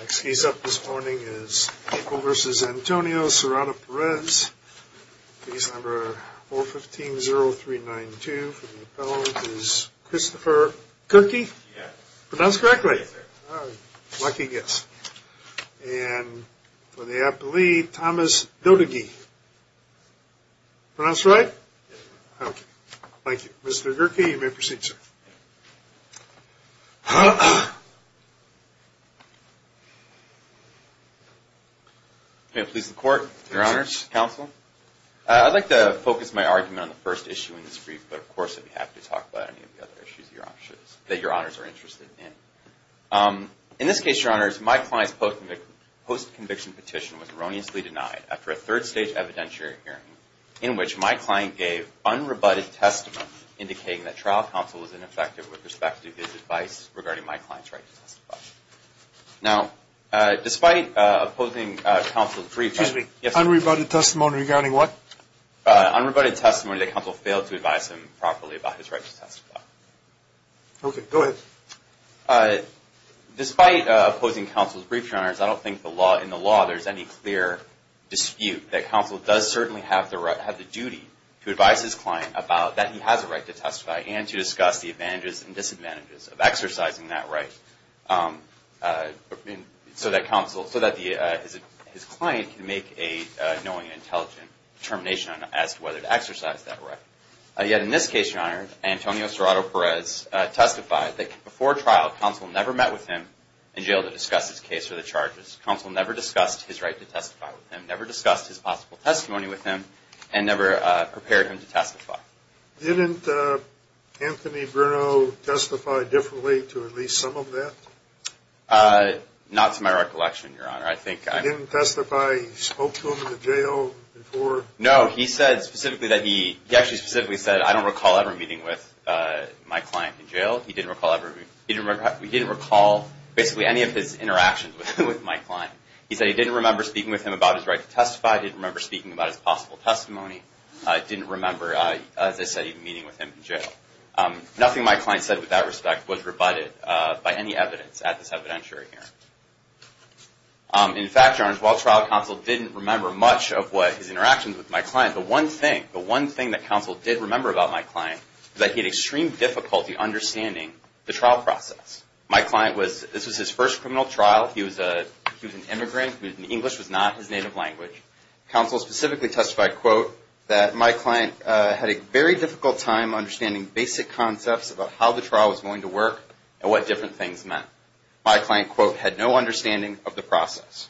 Next case up this morning is Michael v. Antonio Serrato-Perez, case number 015-0392 for the appellant is Christopher Gerke. Pronounced correctly? Yes, sir. Lucky guess. And for the appellee, Thomas Dodegee. Pronounced right? Yes, sir. Thank you. Mr. Gerke, you may proceed, sir. May it please the Court, Your Honors, Counsel? I'd like to focus my argument on the first issue in this brief, but of course I'd be happy to talk about any of the other issues that Your Honors are interested in. In this case, Your Honors, my client's post-conviction petition was erroneously denied after a third-stage evidentiary hearing, in which my client gave unrebutted testimony indicating that trial counsel was ineffective with respect to his advice regarding my client's right to testify. Now, despite opposing counsel's brief... Excuse me. Yes, sir. Unrebutted testimony regarding what? Unrebutted testimony that counsel failed to advise him properly about his right to testify. Okay. Go ahead. Despite opposing counsel's brief, Your Honors, I don't think in the law there's any clear dispute that counsel does certainly have the duty to advise his client about that he has a right to testify and to discuss the advantages and disadvantages of exercising that right so that his client can make a knowing and intelligent determination as to whether to exercise that right. Yet in this case, Your Honor, Antonio Serrato Perez testified that before trial, counsel never met with him in jail to discuss his case or the charges. Counsel never discussed his right to testify with him, never discussed his possible testimony with him, and never prepared him to testify. Didn't Anthony Bruno testify differently to at least some of that? Not to my recollection, Your Honor. I think I... He didn't testify. He spoke to him in the jail before? No. He said specifically that he... He actually specifically said, I don't recall ever meeting with my client in jail. He didn't recall basically any of his interactions with my client. He said he didn't remember speaking with him about his right to testify. He didn't remember speaking about his possible testimony. He didn't remember, as I said, even meeting with him in jail. Nothing my client said with that respect was rebutted by any evidence at this evidentiary hearing. In fact, Your Honor, while trial, counsel didn't remember much of what his interactions with my client... The one thing, the one thing that counsel did remember about my client was that he had extreme difficulty understanding the trial process. My client was... This was his first criminal trial. He was a... He was an immigrant. English was not his native language. Counsel specifically testified, quote, that my client had a very difficult time understanding basic concepts about how the trial was going to work and what different things meant. My client, quote, had no understanding of the process.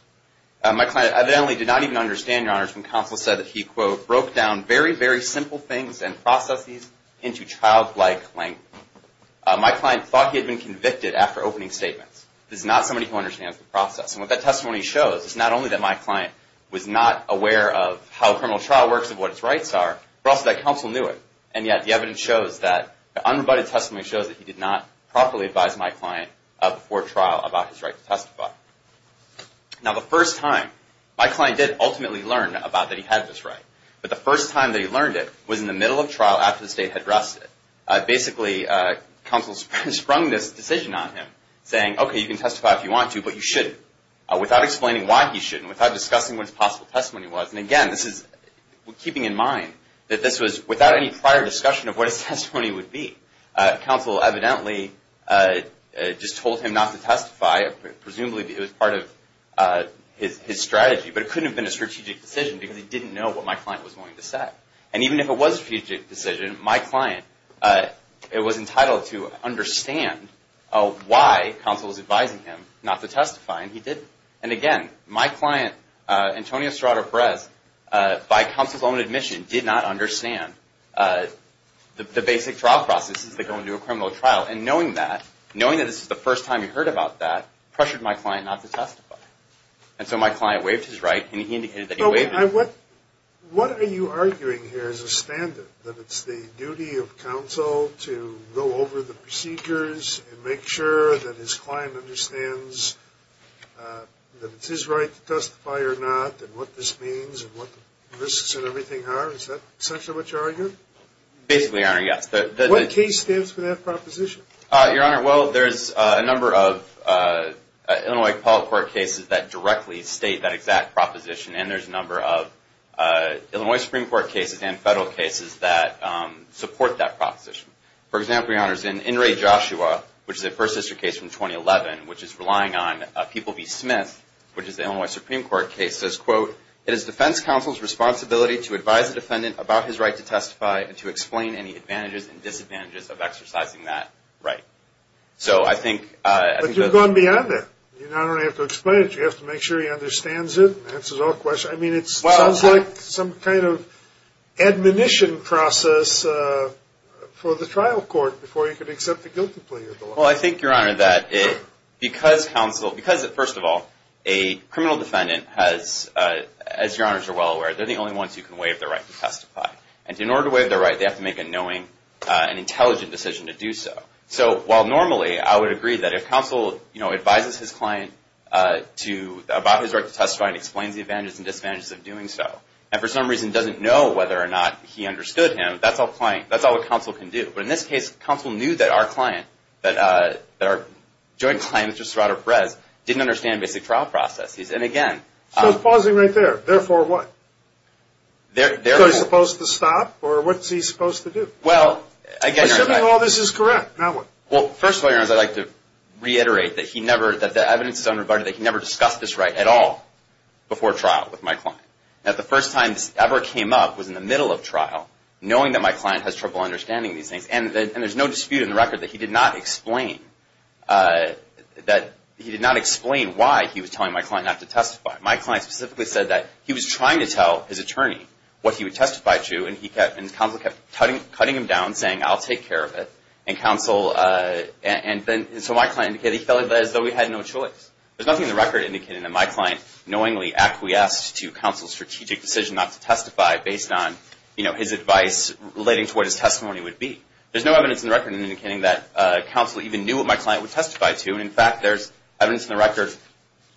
My client evidently did not even understand, Your Honors, when counsel said that he, quote, broke down very, very simple things and processes into childlike length. My client thought he had been convicted after opening statements. This is not somebody who understands the process. And what that testimony shows is not only that my client was not aware of how a criminal trial works and what its rights are, but also that counsel knew it. And yet, the evidence shows that the unrebutted testimony shows that he did not properly advise my client before trial about his right to testify. Now, the first time, my client did ultimately learn about that he had this right. But the first time that he learned it was in the middle of trial after the state had dressed it. Basically, counsel sprung this decision on him, saying, okay, you can testify if you want to, but you shouldn't, without explaining why he shouldn't, without discussing what his possible testimony was. And again, this is keeping in mind that this was without any prior discussion of what his testimony would be. Counsel evidently just told him not to testify. Presumably, it was part of his strategy. But it couldn't have been a strategic decision because he didn't know what my client was going to say. And even if it was a strategic decision, my client was entitled to understand why counsel was advising him not to testify, and he didn't. And again, my client, Antonio Estrada Perez, by counsel's own admission, did not understand the basic trial processes that go into a criminal trial. And knowing that, knowing that this is the first time he heard about that, pressured my client not to testify. And so my client waived his right, and he indicated that he waived it. Your Honor, what are you arguing here as a standard? That it's the duty of counsel to go over the procedures and make sure that his client understands that it's his right to testify or not, and what this means, and what the risks and everything are? Is that essentially what you're arguing? Basically, Your Honor, yes. What case stands for that proposition? Your Honor, well, there's a number of Illinois appellate court cases that directly state that exact proposition, and there's a number of Illinois Supreme Court cases and federal cases that support that proposition. For example, Your Honor, in In re Joshua, which is a First Sister case from 2011, which is relying on People v. Smith, which is the Illinois Supreme Court case, says, quote, it is defense counsel's responsibility to advise a defendant about his right to testify and to explain any advantages and disadvantages of exercising that right. So I think the – But you've gone beyond that. You not only have to explain it, you have to make sure he understands it and answers all questions. I mean, it sounds like some kind of admonition process for the trial court before you can accept a guilty plea. Well, I think, Your Honor, that because counsel – because, first of all, a criminal defendant has – as Your Honors are well aware, they're the only ones who can waive their right to testify. And in order to waive their right, they have to make a knowing and intelligent decision to do so. So while normally I would agree that if counsel, you know, advises his client about his right to testify and explains the advantages and disadvantages of doing so, and for some reason doesn't know whether or not he understood him, that's all counsel can do. But in this case, counsel knew that our client, that our joint client, which was Sartor Perez, didn't understand basic trial processes. And, again – So pausing right there, therefore what? Because he's supposed to stop, or what's he supposed to do? Well, again, Your Honor – Assuming all this is correct, now what? Well, first of all, Your Honors, I'd like to reiterate that he never – that the evidence is unrebutted, that he never discussed this right at all before trial with my client. Now, the first time this ever came up was in the middle of trial, knowing that my client has trouble understanding these things. And there's no dispute in the record that he did not explain – that he did not explain why he was telling my client not to testify. My client specifically said that he was trying to tell his attorney what he would testify to, and he kept – and counsel kept cutting him down, saying, I'll take care of it. And counsel – and so my client indicated he felt as though he had no choice. There's nothing in the record indicating that my client knowingly acquiesced to counsel's strategic decision not to testify based on, you know, his advice relating to what his testimony would be. There's no evidence in the record indicating that counsel even knew what my client would testify to. And, in fact, there's evidence in the record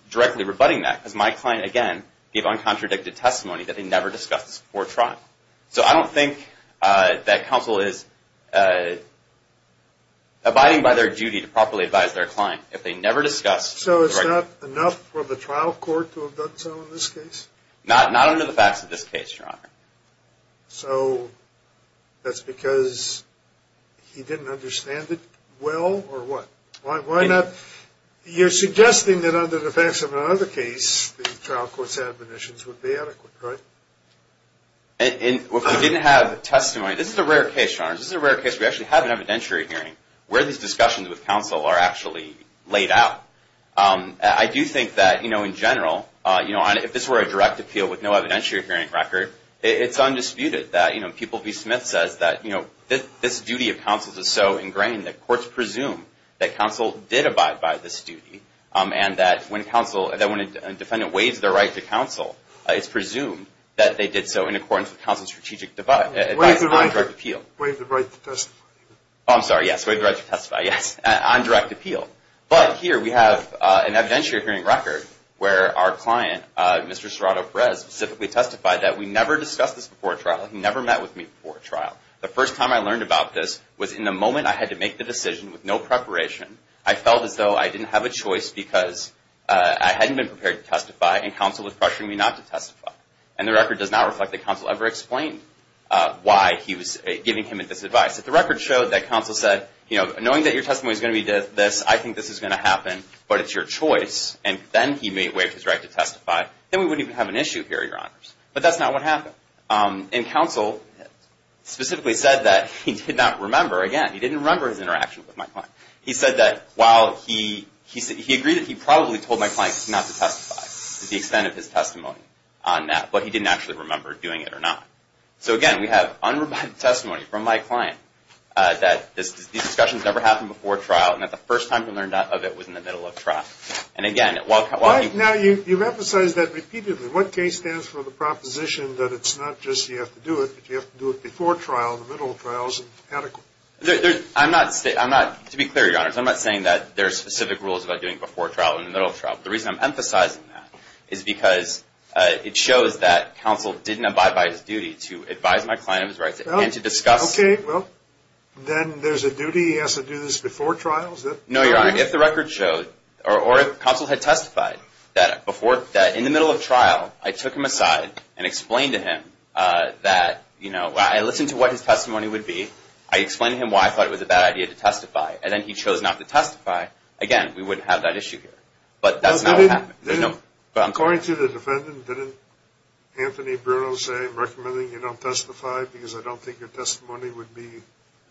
directly rebutting that, because my client, again, gave uncontradicted testimony that he never discussed before trial. So I don't think that counsel is abiding by their duty to properly advise their client. If they never discussed – So it's not enough for the trial court to have done so in this case? Not under the facts of this case, Your Honor. So that's because he didn't understand it well, or what? Why not – you're suggesting that under the facts of another case, the trial court's admonitions would be adequate, right? And if we didn't have testimony – this is a rare case, Your Honor. This is a rare case. We actually have an evidentiary hearing where these discussions with counsel are actually laid out. I do think that, you know, in general, if this were a direct appeal with no evidentiary hearing record, it's undisputed that, you know, People v. Smith says that, you know, this duty of counsel is so ingrained that courts presume that counsel did abide by this duty, and that when a defendant waives their right to counsel, it's presumed that they did so in accordance with counsel's strategic advice on direct appeal. Waive the right to testify. Oh, I'm sorry, yes, waive the right to testify, yes, on direct appeal. But here we have an evidentiary hearing record where our client, Mr. Serrato Perez, specifically testified that we never discussed this before a trial. He never met with me before a trial. The first time I learned about this was in the moment I had to make the decision with no preparation. I felt as though I didn't have a choice because I hadn't been prepared to testify, and counsel was pressuring me not to testify. And the record does not reflect that counsel ever explained why he was giving him this advice. If the record showed that counsel said, you know, knowing that your testimony is going to be this, I think this is going to happen, but it's your choice, and then he may waive his right to testify, then we wouldn't even have an issue here, Your Honors. But that's not what happened. And counsel specifically said that he did not remember, again, he didn't remember his interaction with my client. He said that while he agreed that he probably told my client not to testify to the extent of his testimony on that, but he didn't actually remember doing it or not. So, again, we have unremitted testimony from my client that these discussions never happened before trial, and that the first time he learned of it was in the middle of trial. And, again, while he – Now, you've emphasized that repeatedly. What case stands for the proposition that it's not just you have to do it, but you have to do it before trial and the middle of trial is adequate? I'm not – to be clear, Your Honors, I'm not saying that there are specific rules about doing it before trial and in the middle of trial. The reason I'm emphasizing that is because it shows that counsel didn't abide by his duty to advise my client of his rights and to discuss – Okay, well, then there's a duty he has to do this before trial? No, Your Honor. If the record showed or counsel had testified that in the middle of trial, I took him aside and explained to him that, you know, I listened to what his testimony would be. I explained to him why I thought it was a bad idea to testify. And then he chose not to testify. Again, we wouldn't have that issue here. But that's not what happened. According to the defendant, didn't Anthony Bruno say, I'm recommending you don't testify because I don't think your testimony would be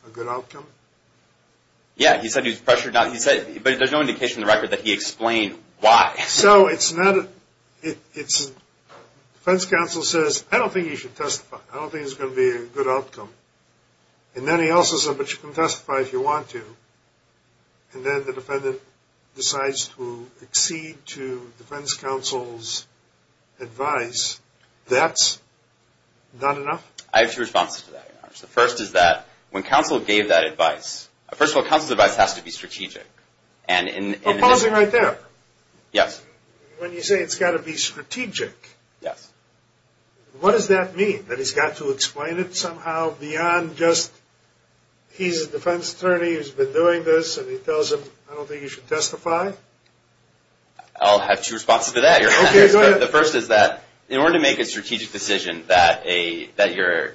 a good outcome? Yeah, he said he was pressured not – he said – but there's no indication in the record that he explained why. So it's not – it's – defense counsel says, I don't think you should testify. I don't think it's going to be a good outcome. And then he also said, but you can testify if you want to. And then the defendant decides to accede to defense counsel's advice. That's not enough? I have two responses to that, Your Honor. The first is that when counsel gave that advice – first of all, counsel's advice has to be strategic. And in – But pausing right there. Yes. When you say it's got to be strategic. Yes. What does that mean, that he's got to explain it somehow beyond just he's a defense attorney who's been doing this and he tells him, I don't think you should testify? I'll have two responses to that, Your Honor. Okay, go ahead. The first is that in order to make a strategic decision that a – that your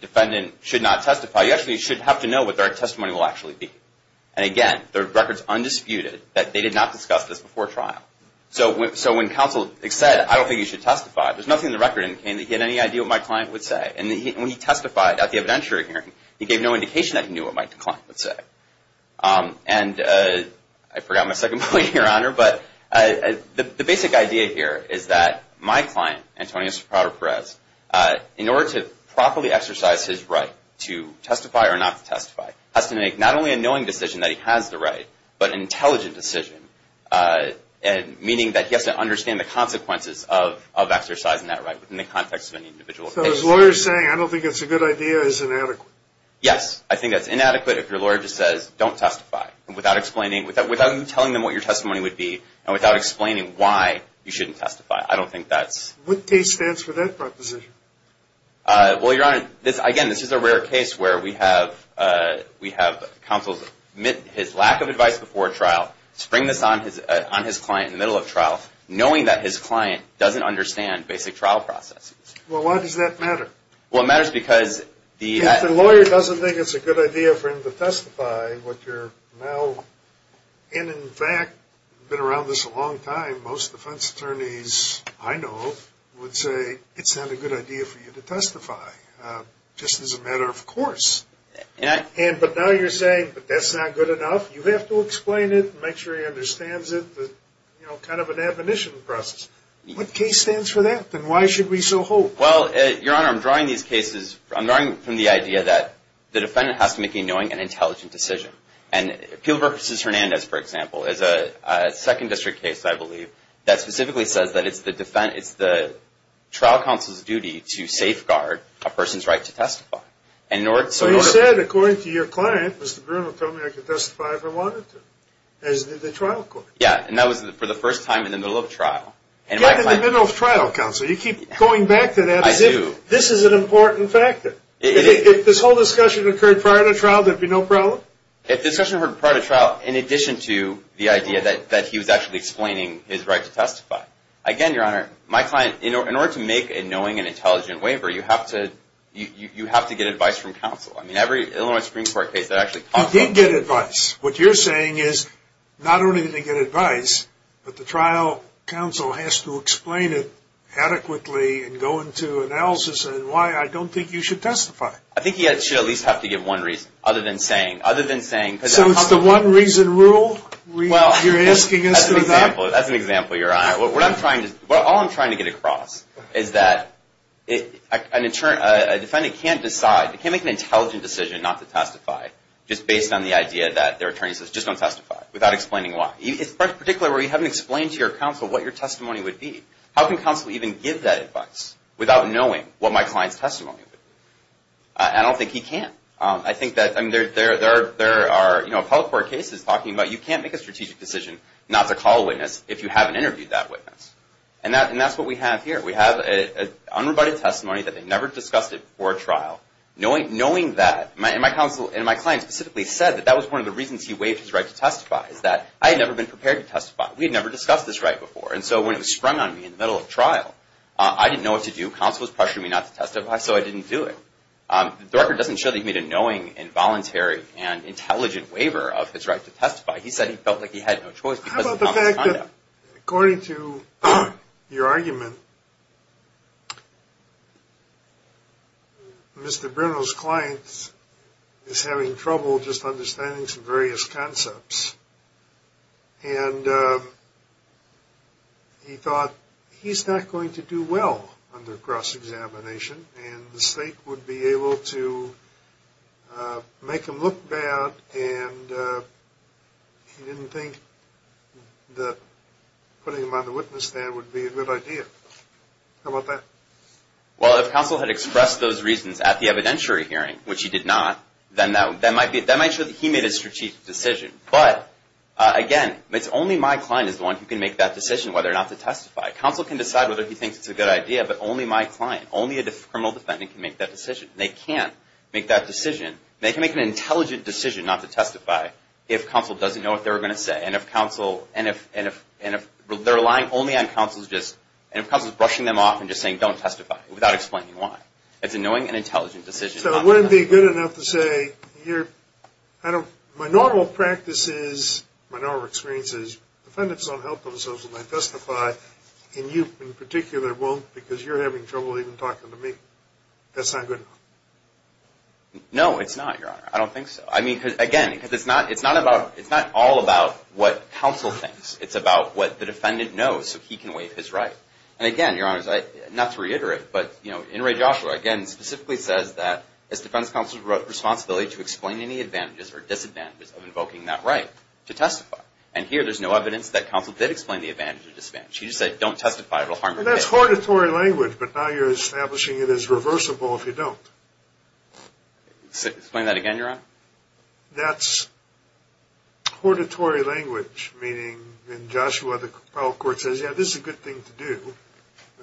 defendant should not testify, you actually should have to know what their testimony will actually be. And again, the record's undisputed that they did not discuss this before trial. So when counsel said, I don't think you should testify, there's nothing in the record indicating that he had any idea what my client would say. And when he testified at the evidentiary hearing, he gave no indication that he knew what my client would say. And I forgot my second point, Your Honor, but the basic idea here is that my client, Antonio Soprano Perez, in order to properly exercise his right to testify or not to testify, has to make not only a knowing decision that he has the right, but an intelligent decision, meaning that he has to understand the consequences of exercising that right within the context of an individual case. So his lawyer is saying, I don't think it's a good idea, it's inadequate. Yes, I think that's inadequate if your lawyer just says, don't testify, without explaining – without you telling them what your testimony would be and without explaining why you shouldn't testify. I don't think that's – What case stands for that proposition? Well, Your Honor, again, this is a rare case where we have counsels admit his lack of advice before a trial, spring this on his client in the middle of trial, knowing that his client doesn't understand basic trial processes. Well, why does that matter? Well, it matters because the – If the lawyer doesn't think it's a good idea for him to testify, what you're now – and in fact, been around this a long time, most defense attorneys I know would say, it's not a good idea for you to testify, just as a matter of course. And I – But now you're saying, but that's not good enough. You have to explain it and make sure he understands it. You know, kind of an admonition process. What case stands for that, and why should we so hope? Well, Your Honor, I'm drawing these cases – I'm drawing from the idea that the defendant has to make a knowing and intelligent decision. And Peel v. Hernandez, for example, is a second district case, I believe, that specifically says that it's the trial counsel's duty to safeguard a person's right to testify. So you said, according to your client, Mr. Brewer told me I could testify if I wanted to, as did the trial court. Yeah, and that was for the first time in the middle of trial. Get in the middle of trial, counsel. You keep going back to that. I do. This is an important factor. If this whole discussion occurred prior to trial, there'd be no problem? If this discussion occurred prior to trial, in addition to the idea that he was actually explaining his right to testify. Again, Your Honor, my client – in order to make a knowing and intelligent waiver, you have to get advice from counsel. I mean, every Illinois Supreme Court case that actually – He did get advice. What you're saying is, not only did he get advice, but the trial counsel has to explain it adequately and go into analysis and why I don't think you should testify. I think he should at least have to give one reason, other than saying – So it's the one-reason rule you're asking us to adopt? That's an example, Your Honor. All I'm trying to get across is that a defendant can't decide – they can't make an intelligent decision not to testify just based on the idea that their attorney says, just don't testify, without explaining why. Particularly where you haven't explained to your counsel what your testimony would be. How can counsel even give that advice without knowing what my client's testimony would be? I don't think he can. I think that there are appellate court cases talking about you can't make a strategic decision not to call a witness if you haven't interviewed that witness. And that's what we have here. We have an unrebutted testimony that they never discussed it before trial. Knowing that, and my client specifically said that that was one of the reasons he waived his right to testify, is that I had never been prepared to testify. We had never discussed this right before. And so when it was sprung on me in the middle of trial, I didn't know what to do. Counsel was pressuring me not to testify, so I didn't do it. The record doesn't show that he made a knowing and voluntary and intelligent waiver of his right to testify. He said he felt like he had no choice because of his conduct. According to your argument, Mr. Bruno's client is having trouble just understanding some various concepts. And he thought he's not going to do well under cross-examination, and the state would be able to make him look bad, and he didn't think that putting him on the witness stand would be a good idea. How about that? Well, if counsel had expressed those reasons at the evidentiary hearing, which he did not, then that might show that he made a strategic decision. But, again, it's only my client is the one who can make that decision whether or not to testify. Counsel can decide whether he thinks it's a good idea, but only my client, only a criminal defendant can make that decision. They can't make that decision. They can make an intelligent decision not to testify if counsel doesn't know what they're going to say. And if counsel is brushing them off and just saying, don't testify, without explaining why. But wouldn't it be good enough to say, my normal practice is, my normal experience is, defendants don't help themselves when they testify, and you in particular won't because you're having trouble even talking to me. That's not good enough. No, it's not, Your Honor. I don't think so. I mean, again, because it's not all about what counsel thinks. It's about what the defendant knows so he can waive his right. And, again, Your Honor, not to reiterate, but, you know, In Re Joshua, again, specifically says that it's defendant's counsel's responsibility to explain any advantages or disadvantages of invoking that right to testify. And here there's no evidence that counsel did explain the advantages or disadvantages. He just said, don't testify, it will harm your case. That's hortatory language, but now you're establishing it as reversible if you don't. Explain that again, Your Honor. That's hortatory language, meaning, in Joshua, the trial court says, yeah, this is a good thing to do,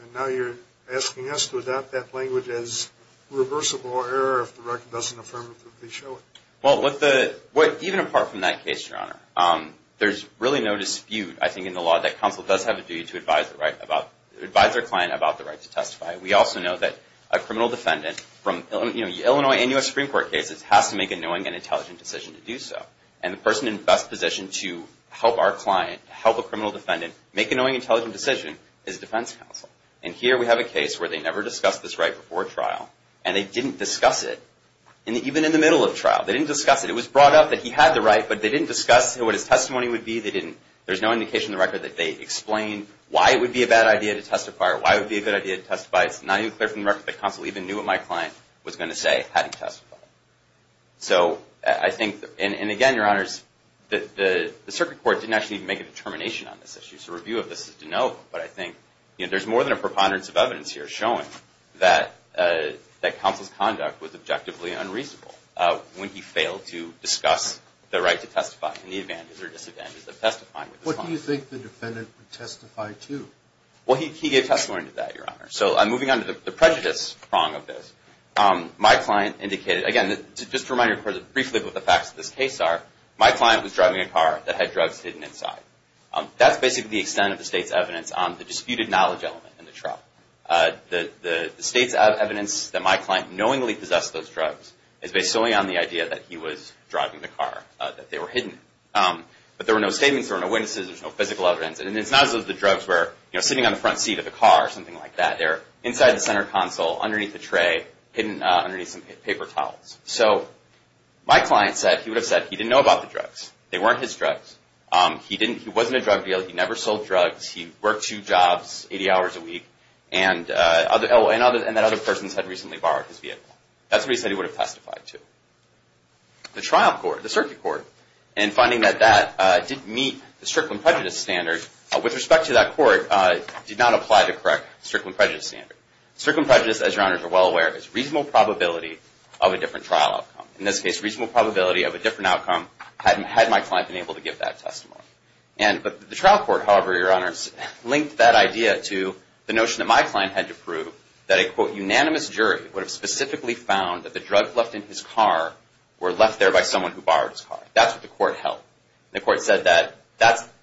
and now you're asking us to adopt that language as reversible error if the record doesn't affirmatively show it. Well, even apart from that case, Your Honor, there's really no dispute, I think, in the law that counsel does have a duty to advise their client about the right to testify. We also know that a criminal defendant from, you know, Illinois and U.S. Supreme Court cases has to make a knowing and intelligent decision to do so. And the person in best position to help our client, help a criminal defendant, make a knowing and intelligent decision is defense counsel. And here we have a case where they never discussed this right before trial, and they didn't discuss it even in the middle of trial. They didn't discuss it. It was brought up that he had the right, but they didn't discuss what his testimony would be. There's no indication in the record that they explained why it would be a bad idea to testify or why it would be a good idea to testify. It's not even clear from the record that counsel even knew what my client was going to say had he testified. So I think, and again, Your Honors, the circuit court didn't actually make a determination on this issue. So review of this is to note, but I think there's more than a preponderance of evidence here showing that counsel's conduct was objectively unreasonable when he failed to discuss the right to testify and the advantages or disadvantages of testifying. What do you think the defendant would testify to? Well, he gave testimony to that, Your Honor. So I'm moving on to the prejudice prong of this. My client indicated, again, just to remind you briefly what the facts of this case are, my client was driving a car that had drugs hidden inside. That's basically the extent of the state's evidence on the disputed knowledge element in the trial. The state's evidence that my client knowingly possessed those drugs is based solely on the idea that he was driving the car, that they were hidden. But there were no statements, there were no witnesses, there was no physical evidence. And it's not as though the drugs were sitting on the front seat of the car or something like that. They're inside the center console, underneath the tray, hidden underneath some paper towels. So my client said, he would have said, he didn't know about the drugs. They weren't his drugs. He wasn't a drug dealer. He never sold drugs. He worked two jobs 80 hours a week. And that other person had recently borrowed his vehicle. That's what he said he would have testified to. The trial court, the circuit court, in finding that that didn't meet the strickland prejudice standard, with respect to that court, did not apply the correct strickland prejudice standard. Strickland prejudice, as your honors are well aware, is reasonable probability of a different trial outcome. In this case, reasonable probability of a different outcome had my client been able to give that testimony. And the trial court, however, your honors, linked that idea to the notion that my client had to prove that a, quote, unanimous jury would have specifically found that the drugs left in his car were left there by someone who borrowed his car. That's what the court held. The court said that,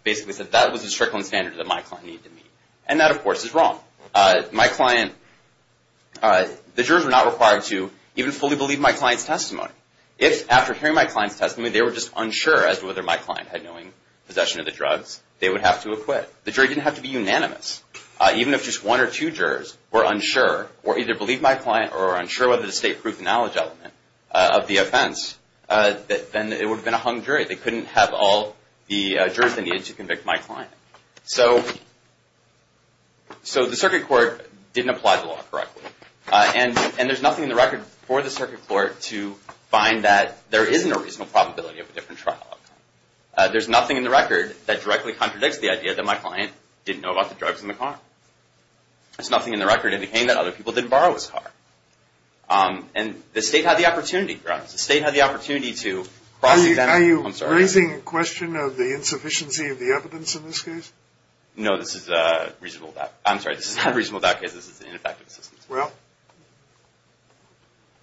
basically said that was the strickland standard that my client needed to meet. And that, of course, is wrong. My client, the jurors were not required to even fully believe my client's testimony. If, after hearing my client's testimony, they were just unsure as to whether my client had knowing possession of the drugs, they would have to acquit. The jury didn't have to be unanimous. Even if just one or two jurors were unsure or either believed my client or were unsure whether the state proved the knowledge element of the offense, then it would have been a hung jury. They couldn't have all the jurors they needed to convict my client. So the circuit court didn't apply the law correctly. And there's nothing in the record for the circuit court to find that there isn't a reasonable probability of a different trial outcome. There's nothing in the record that directly contradicts the idea that my client didn't know about the drugs in the car. There's nothing in the record indicating that other people didn't borrow his car. And the state had the opportunity, to be honest. The state had the opportunity to cross-examine him. Are you raising a question of the insufficiency of the evidence in this case? No, this is a reasonable doubt. I'm sorry, this is not a reasonable doubt because this is ineffective assistance. Well,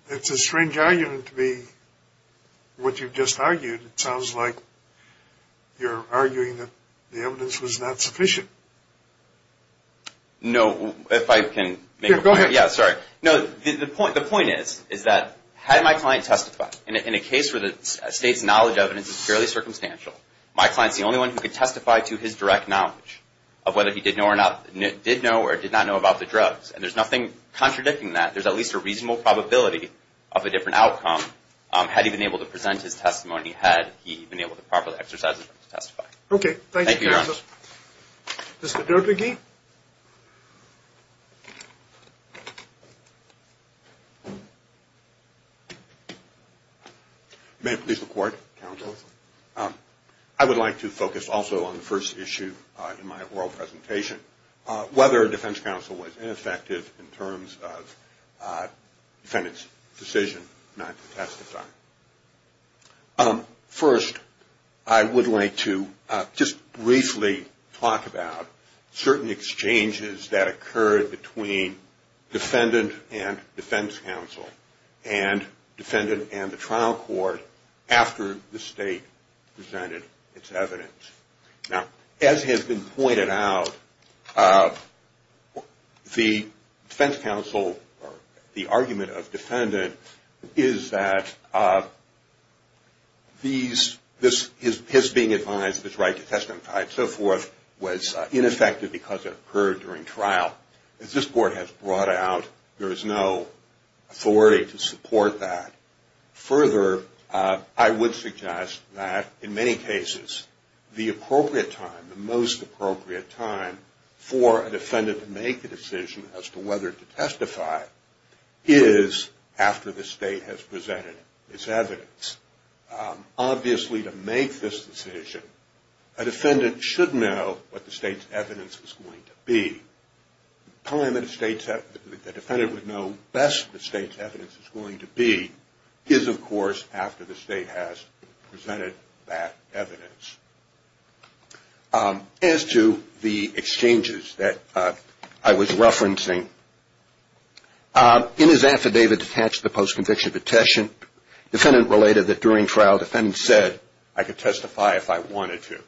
it's a strange argument to be what you've just argued. It sounds like you're arguing that the evidence was not sufficient. No, if I can make a point. Yeah, go ahead. Yeah, sorry. No, the point is, is that had my client testified in a case where the state's knowledge of it is fairly circumstantial, my client's the only one who could testify to his direct knowledge of whether he did know or did not know about the drugs. And there's nothing contradicting that. There's at least a reasonable probability of a different outcome had he been able to present his testimony, had he been able to properly exercise his right to testify. Okay. Thank you, Your Honor. Thank you, Your Honor. Mr. Derbyge? May I please report, counsel? I would like to focus also on the first issue in my oral presentation, whether a defense counsel was ineffective in terms of defendant's decision not to testify. First, I would like to just briefly talk about certain exchanges that occurred between defendant and defense counsel and defendant and the trial court after the state presented its evidence. Now, as has been pointed out, the defense counsel, or the argument of defendant, is that his being advised of his right to testify and so forth was ineffective because it occurred during trial. As this court has brought out, there is no authority to support that. Further, I would suggest that, in many cases, the appropriate time, the most appropriate time, for a defendant to make a decision as to whether to testify is after the state has presented its evidence. Obviously, to make this decision, a defendant should know what the state's evidence was going to be. The time that the defendant would know best the state's evidence is going to be is, of course, after the state has presented that evidence. As to the exchanges that I was referencing, in his affidavit attached to the post-conviction petition, defendant related that during trial, defendant said, I could testify if I wanted to.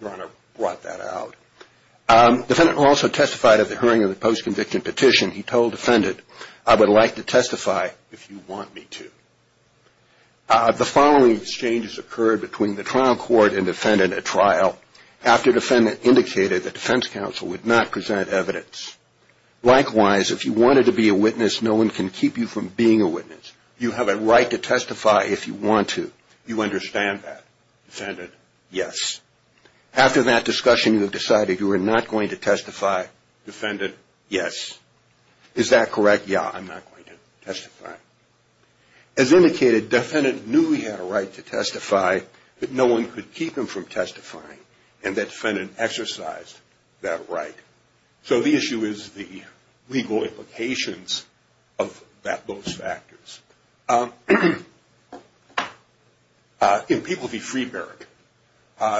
Your Honor brought that out. Defendant also testified at the hearing of the post-conviction petition. He told defendant, I would like to testify if you want me to. The following exchanges occurred between the trial court and defendant at trial after defendant indicated that defense counsel would not present evidence. Likewise, if you wanted to be a witness, no one can keep you from being a witness. You have a right to testify if you want to. You understand that, defendant? Yes. After that discussion, you have decided you are not going to testify. Defendant, yes. Is that correct? Yeah, I'm not going to testify. As indicated, defendant knew he had a right to testify, but no one could keep him from testifying, and that defendant exercised that right. So the issue is the legal implications of those factors. In People v. Freeburg,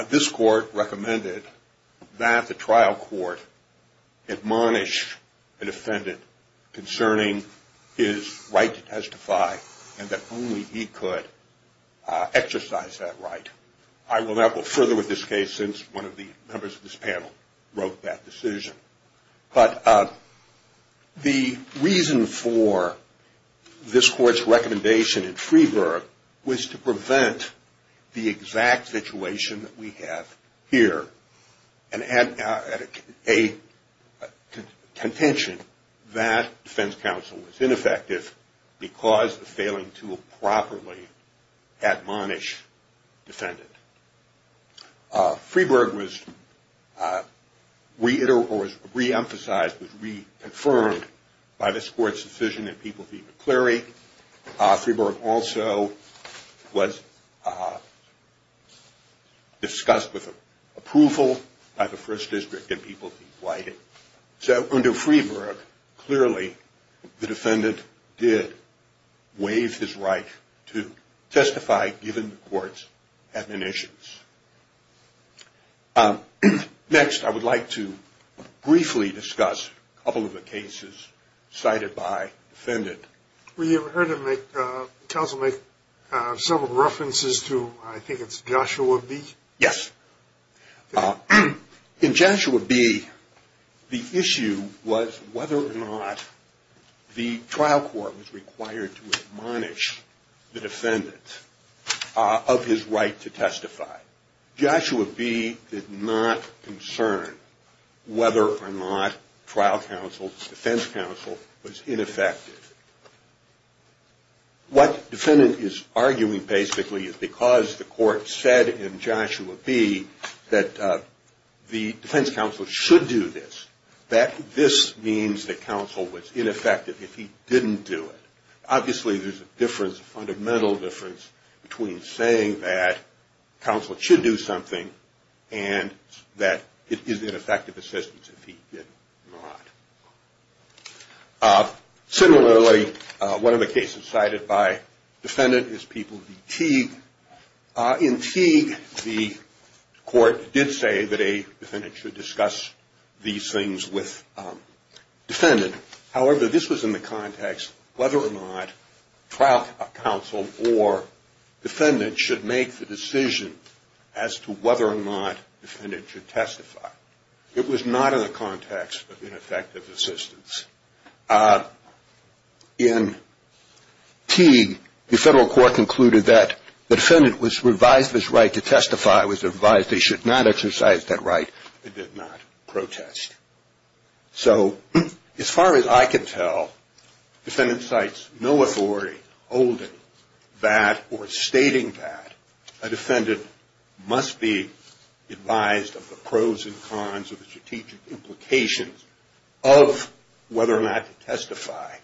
this court recommended that the trial court admonish the defendant concerning his right to testify and that only he could exercise that right. I will not go further with this case since one of the members of this panel wrote that decision. But the reason for this court's recommendation in Freeburg was to prevent the exact situation that we have here and add a contention that defense counsel was ineffective because of failing to properly admonish defendant. Freeburg was re-emphasized, was re-confirmed by this court's decision in People v. McCleary. Freeburg also was discussed with approval by the first district in People v. White. So under Freeburg, clearly the defendant did waive his right to testify given the court's admonitions. Next, I would like to briefly discuss a couple of the cases cited by defendant. We have heard counsel make several references to, I think it's Joshua B. Yes. In Joshua B., the issue was whether or not the trial court was required to admonish the defendant of his right to testify. Joshua B. did not concern whether or not trial counsel, defense counsel was ineffective. What defendant is arguing basically is because the court said in Joshua B. that the defense counsel should do this, that this means that counsel was ineffective if he didn't do it. Obviously, there's a difference, a fundamental difference, between saying that counsel should do something and that it is ineffective assistance if he did not. Similarly, one of the cases cited by defendant is People v. Teague. In Teague, the court did say that a defendant should discuss these things with defendant. However, this was in the context whether or not trial counsel or defendant should make the decision as to whether or not defendant should testify. It was not in the context of ineffective assistance. In Teague, the federal court concluded that the defendant was revised his right to testify, was advised they should not exercise that right, and did not protest. So as far as I can tell, defendant cites no authority holding that or stating that a defendant must be advised of the pros and cons of the strategic implications of whether or not to testify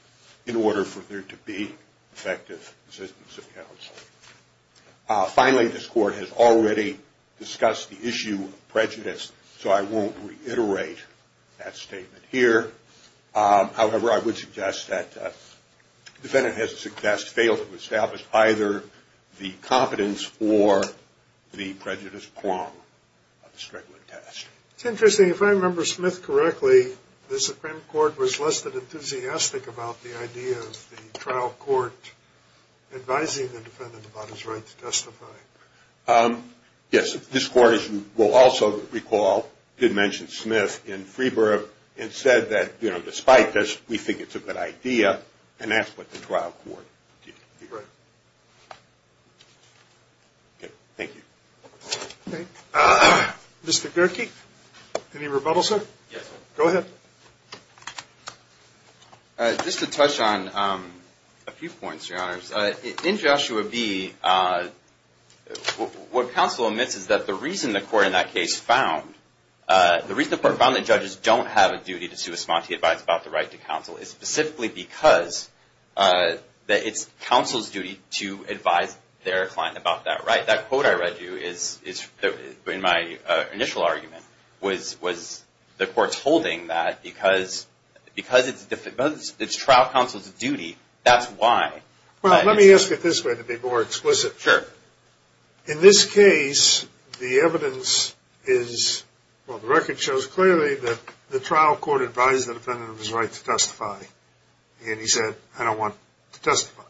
in order for there to be effective assistance of counsel. Finally, this court has already discussed the issue of prejudice, so I won't reiterate that statement here. However, I would suggest that defendant has failed to establish either the competence or the prejudice prong of the Strickland test. It's interesting, if I remember Smith correctly, the Supreme Court was less than enthusiastic about the idea of the trial court advising the defendant about his right to testify. Yes, this court, as you will also recall, did mention Smith in Freeburg and said that despite this, we think it's a good idea, and that's what the trial court did. Right. Thank you. Mr. Gerke, any rebuttal, sir? Yes. Go ahead. Just to touch on a few points, Your Honors. In Joshua v., what counsel admits is that the reason the court in that case found, the reason the court found that judges don't have a duty to respond to the advice about the right to counsel is specifically because it's counsel's duty to advise their client about that right. That quote I read to you in my initial argument was the court's holding that because it's trial counsel's duty, that's why. Well, let me ask it this way to be more explicit. Sure. In this case, the evidence is, well, the record shows clearly that the trial court advised the defendant of his right to testify, and he said, I don't want to testify.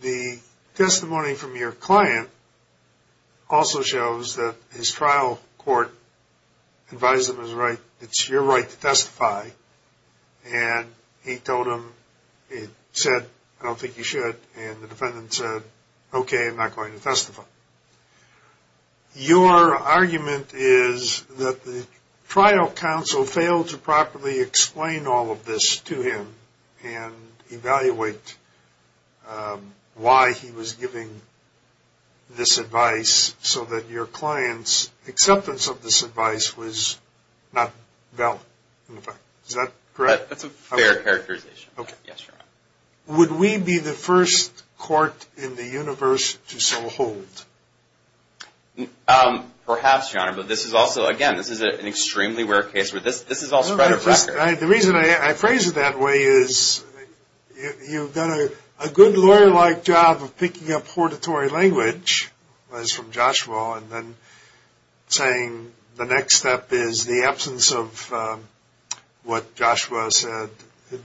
The testimony from your client also shows that his trial court advised him it's your right to testify, and he told him, he said, I don't think you should, and the defendant said, okay, I'm not going to testify. Your argument is that the trial counsel failed to properly explain all of this to him and evaluate why he was giving this advice so that your client's acceptance of this advice was not valid. Is that correct? That's a fair characterization, yes, Your Honor. Would we be the first court in the universe to so hold? Perhaps, Your Honor, but this is also, again, this is an extremely rare case where this is all spread of record. The reason I phrase it that way is you've done a good lawyer-like job of picking up hortatory language, that is from Joshua, and then saying the next step is the absence of what Joshua said, the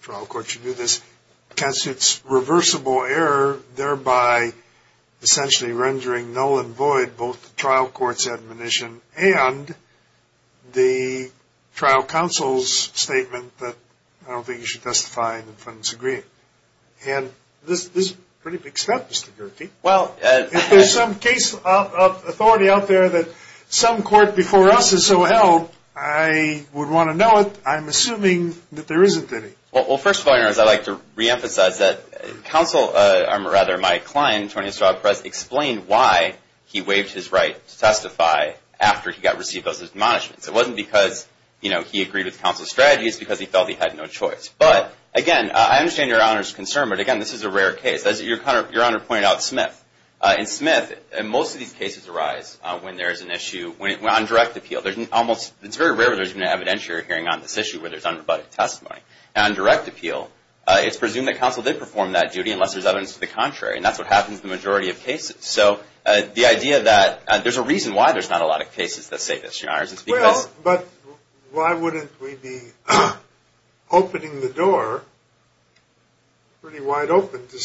trial court should do this, because it's reversible error, thereby essentially rendering null and void both the trial court's admonition and the trial counsel's statement that I don't think you should testify and the defendants agree. And this is a pretty big step, Mr. Gertie. If there's some case of authority out there that some court before us has so held, I would want to know it. I'm assuming that there isn't any. Well, first of all, Your Honor, I'd like to reemphasize that counsel, or rather my client, Tony Estrada Perez, explained why he waived his right to testify after he got received those admonishments. It wasn't because he agreed with counsel's strategy. It's because he felt he had no choice. But, again, I understand Your Honor's concern, but, again, this is a rare case. As Your Honor pointed out, Smith. In Smith, most of these cases arise when there is an issue on direct appeal. It's very rare that there's been an evidentiary hearing on this issue where there's unrebutted testimony. On direct appeal, it's presumed that counsel did perform that duty unless there's evidence to the contrary, and that's what happens in the majority of cases. So the idea that there's a reason why there's not a lot of cases that say this, Your Honor, is because – Opening the door, pretty wide open to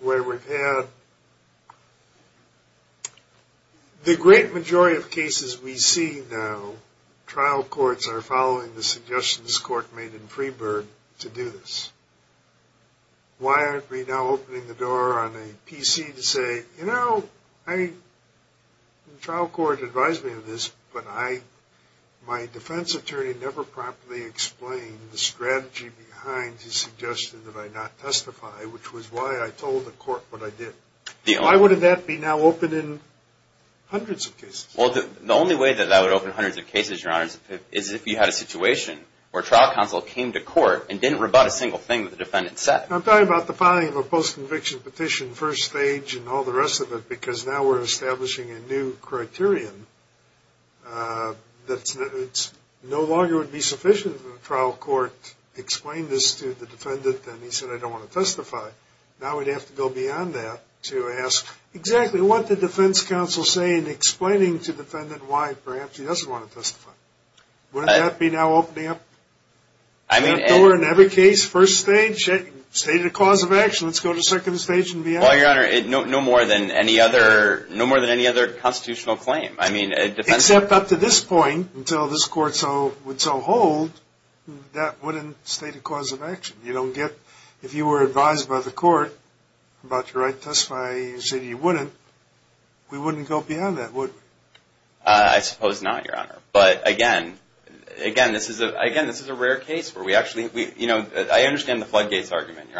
where we're at, the great majority of cases we see now, trial courts are following the suggestions the court made in Freeburg to do this. Why aren't we now opening the door on a PC to say, you know, the trial court advised me of this, but my defense attorney never promptly explained the strategy behind his suggestion that I not testify, which was why I told the court what I did. Why would that be now open in hundreds of cases? Well, the only way that that would open hundreds of cases, Your Honor, is if you had a situation where trial counsel came to court and didn't rebut a single thing that the defendant said. I'm talking about the filing of a post-conviction petition, first stage, and all the rest of it, because now we're establishing a new criterion that no longer would be sufficient if the trial court explained this to the defendant and he said, I don't want to testify. Now we'd have to go beyond that to ask, exactly what did the defense counsel say in explaining to the defendant why perhaps he doesn't want to testify? Wouldn't that be now opening up the door in every case, first stage, state a cause of action, let's go to second stage and beyond? Well, Your Honor, no more than any other constitutional claim. Except up to this point, until this court would so hold, that wouldn't state a cause of action. If you were advised by the court about your right to testify and you said you wouldn't, we wouldn't go beyond that, would we? I suppose not, Your Honor. But again, this is a rare case where we actually, you know, I understand the floodgates argument.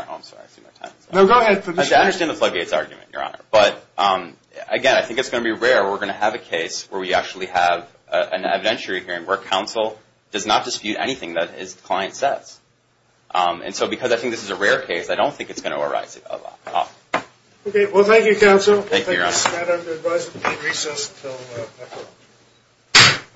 No, go ahead. I understand the floodgates argument, Your Honor, but again, I think it's going to be rare where we're going to have a case where we actually have an evidentiary hearing where counsel does not dispute anything that his client says. And so because I think this is a rare case, I don't think it's going to arise at all. Okay, well, thank you, counsel. Thank you, Your Honor. I'm going to advise you to take recess until next time.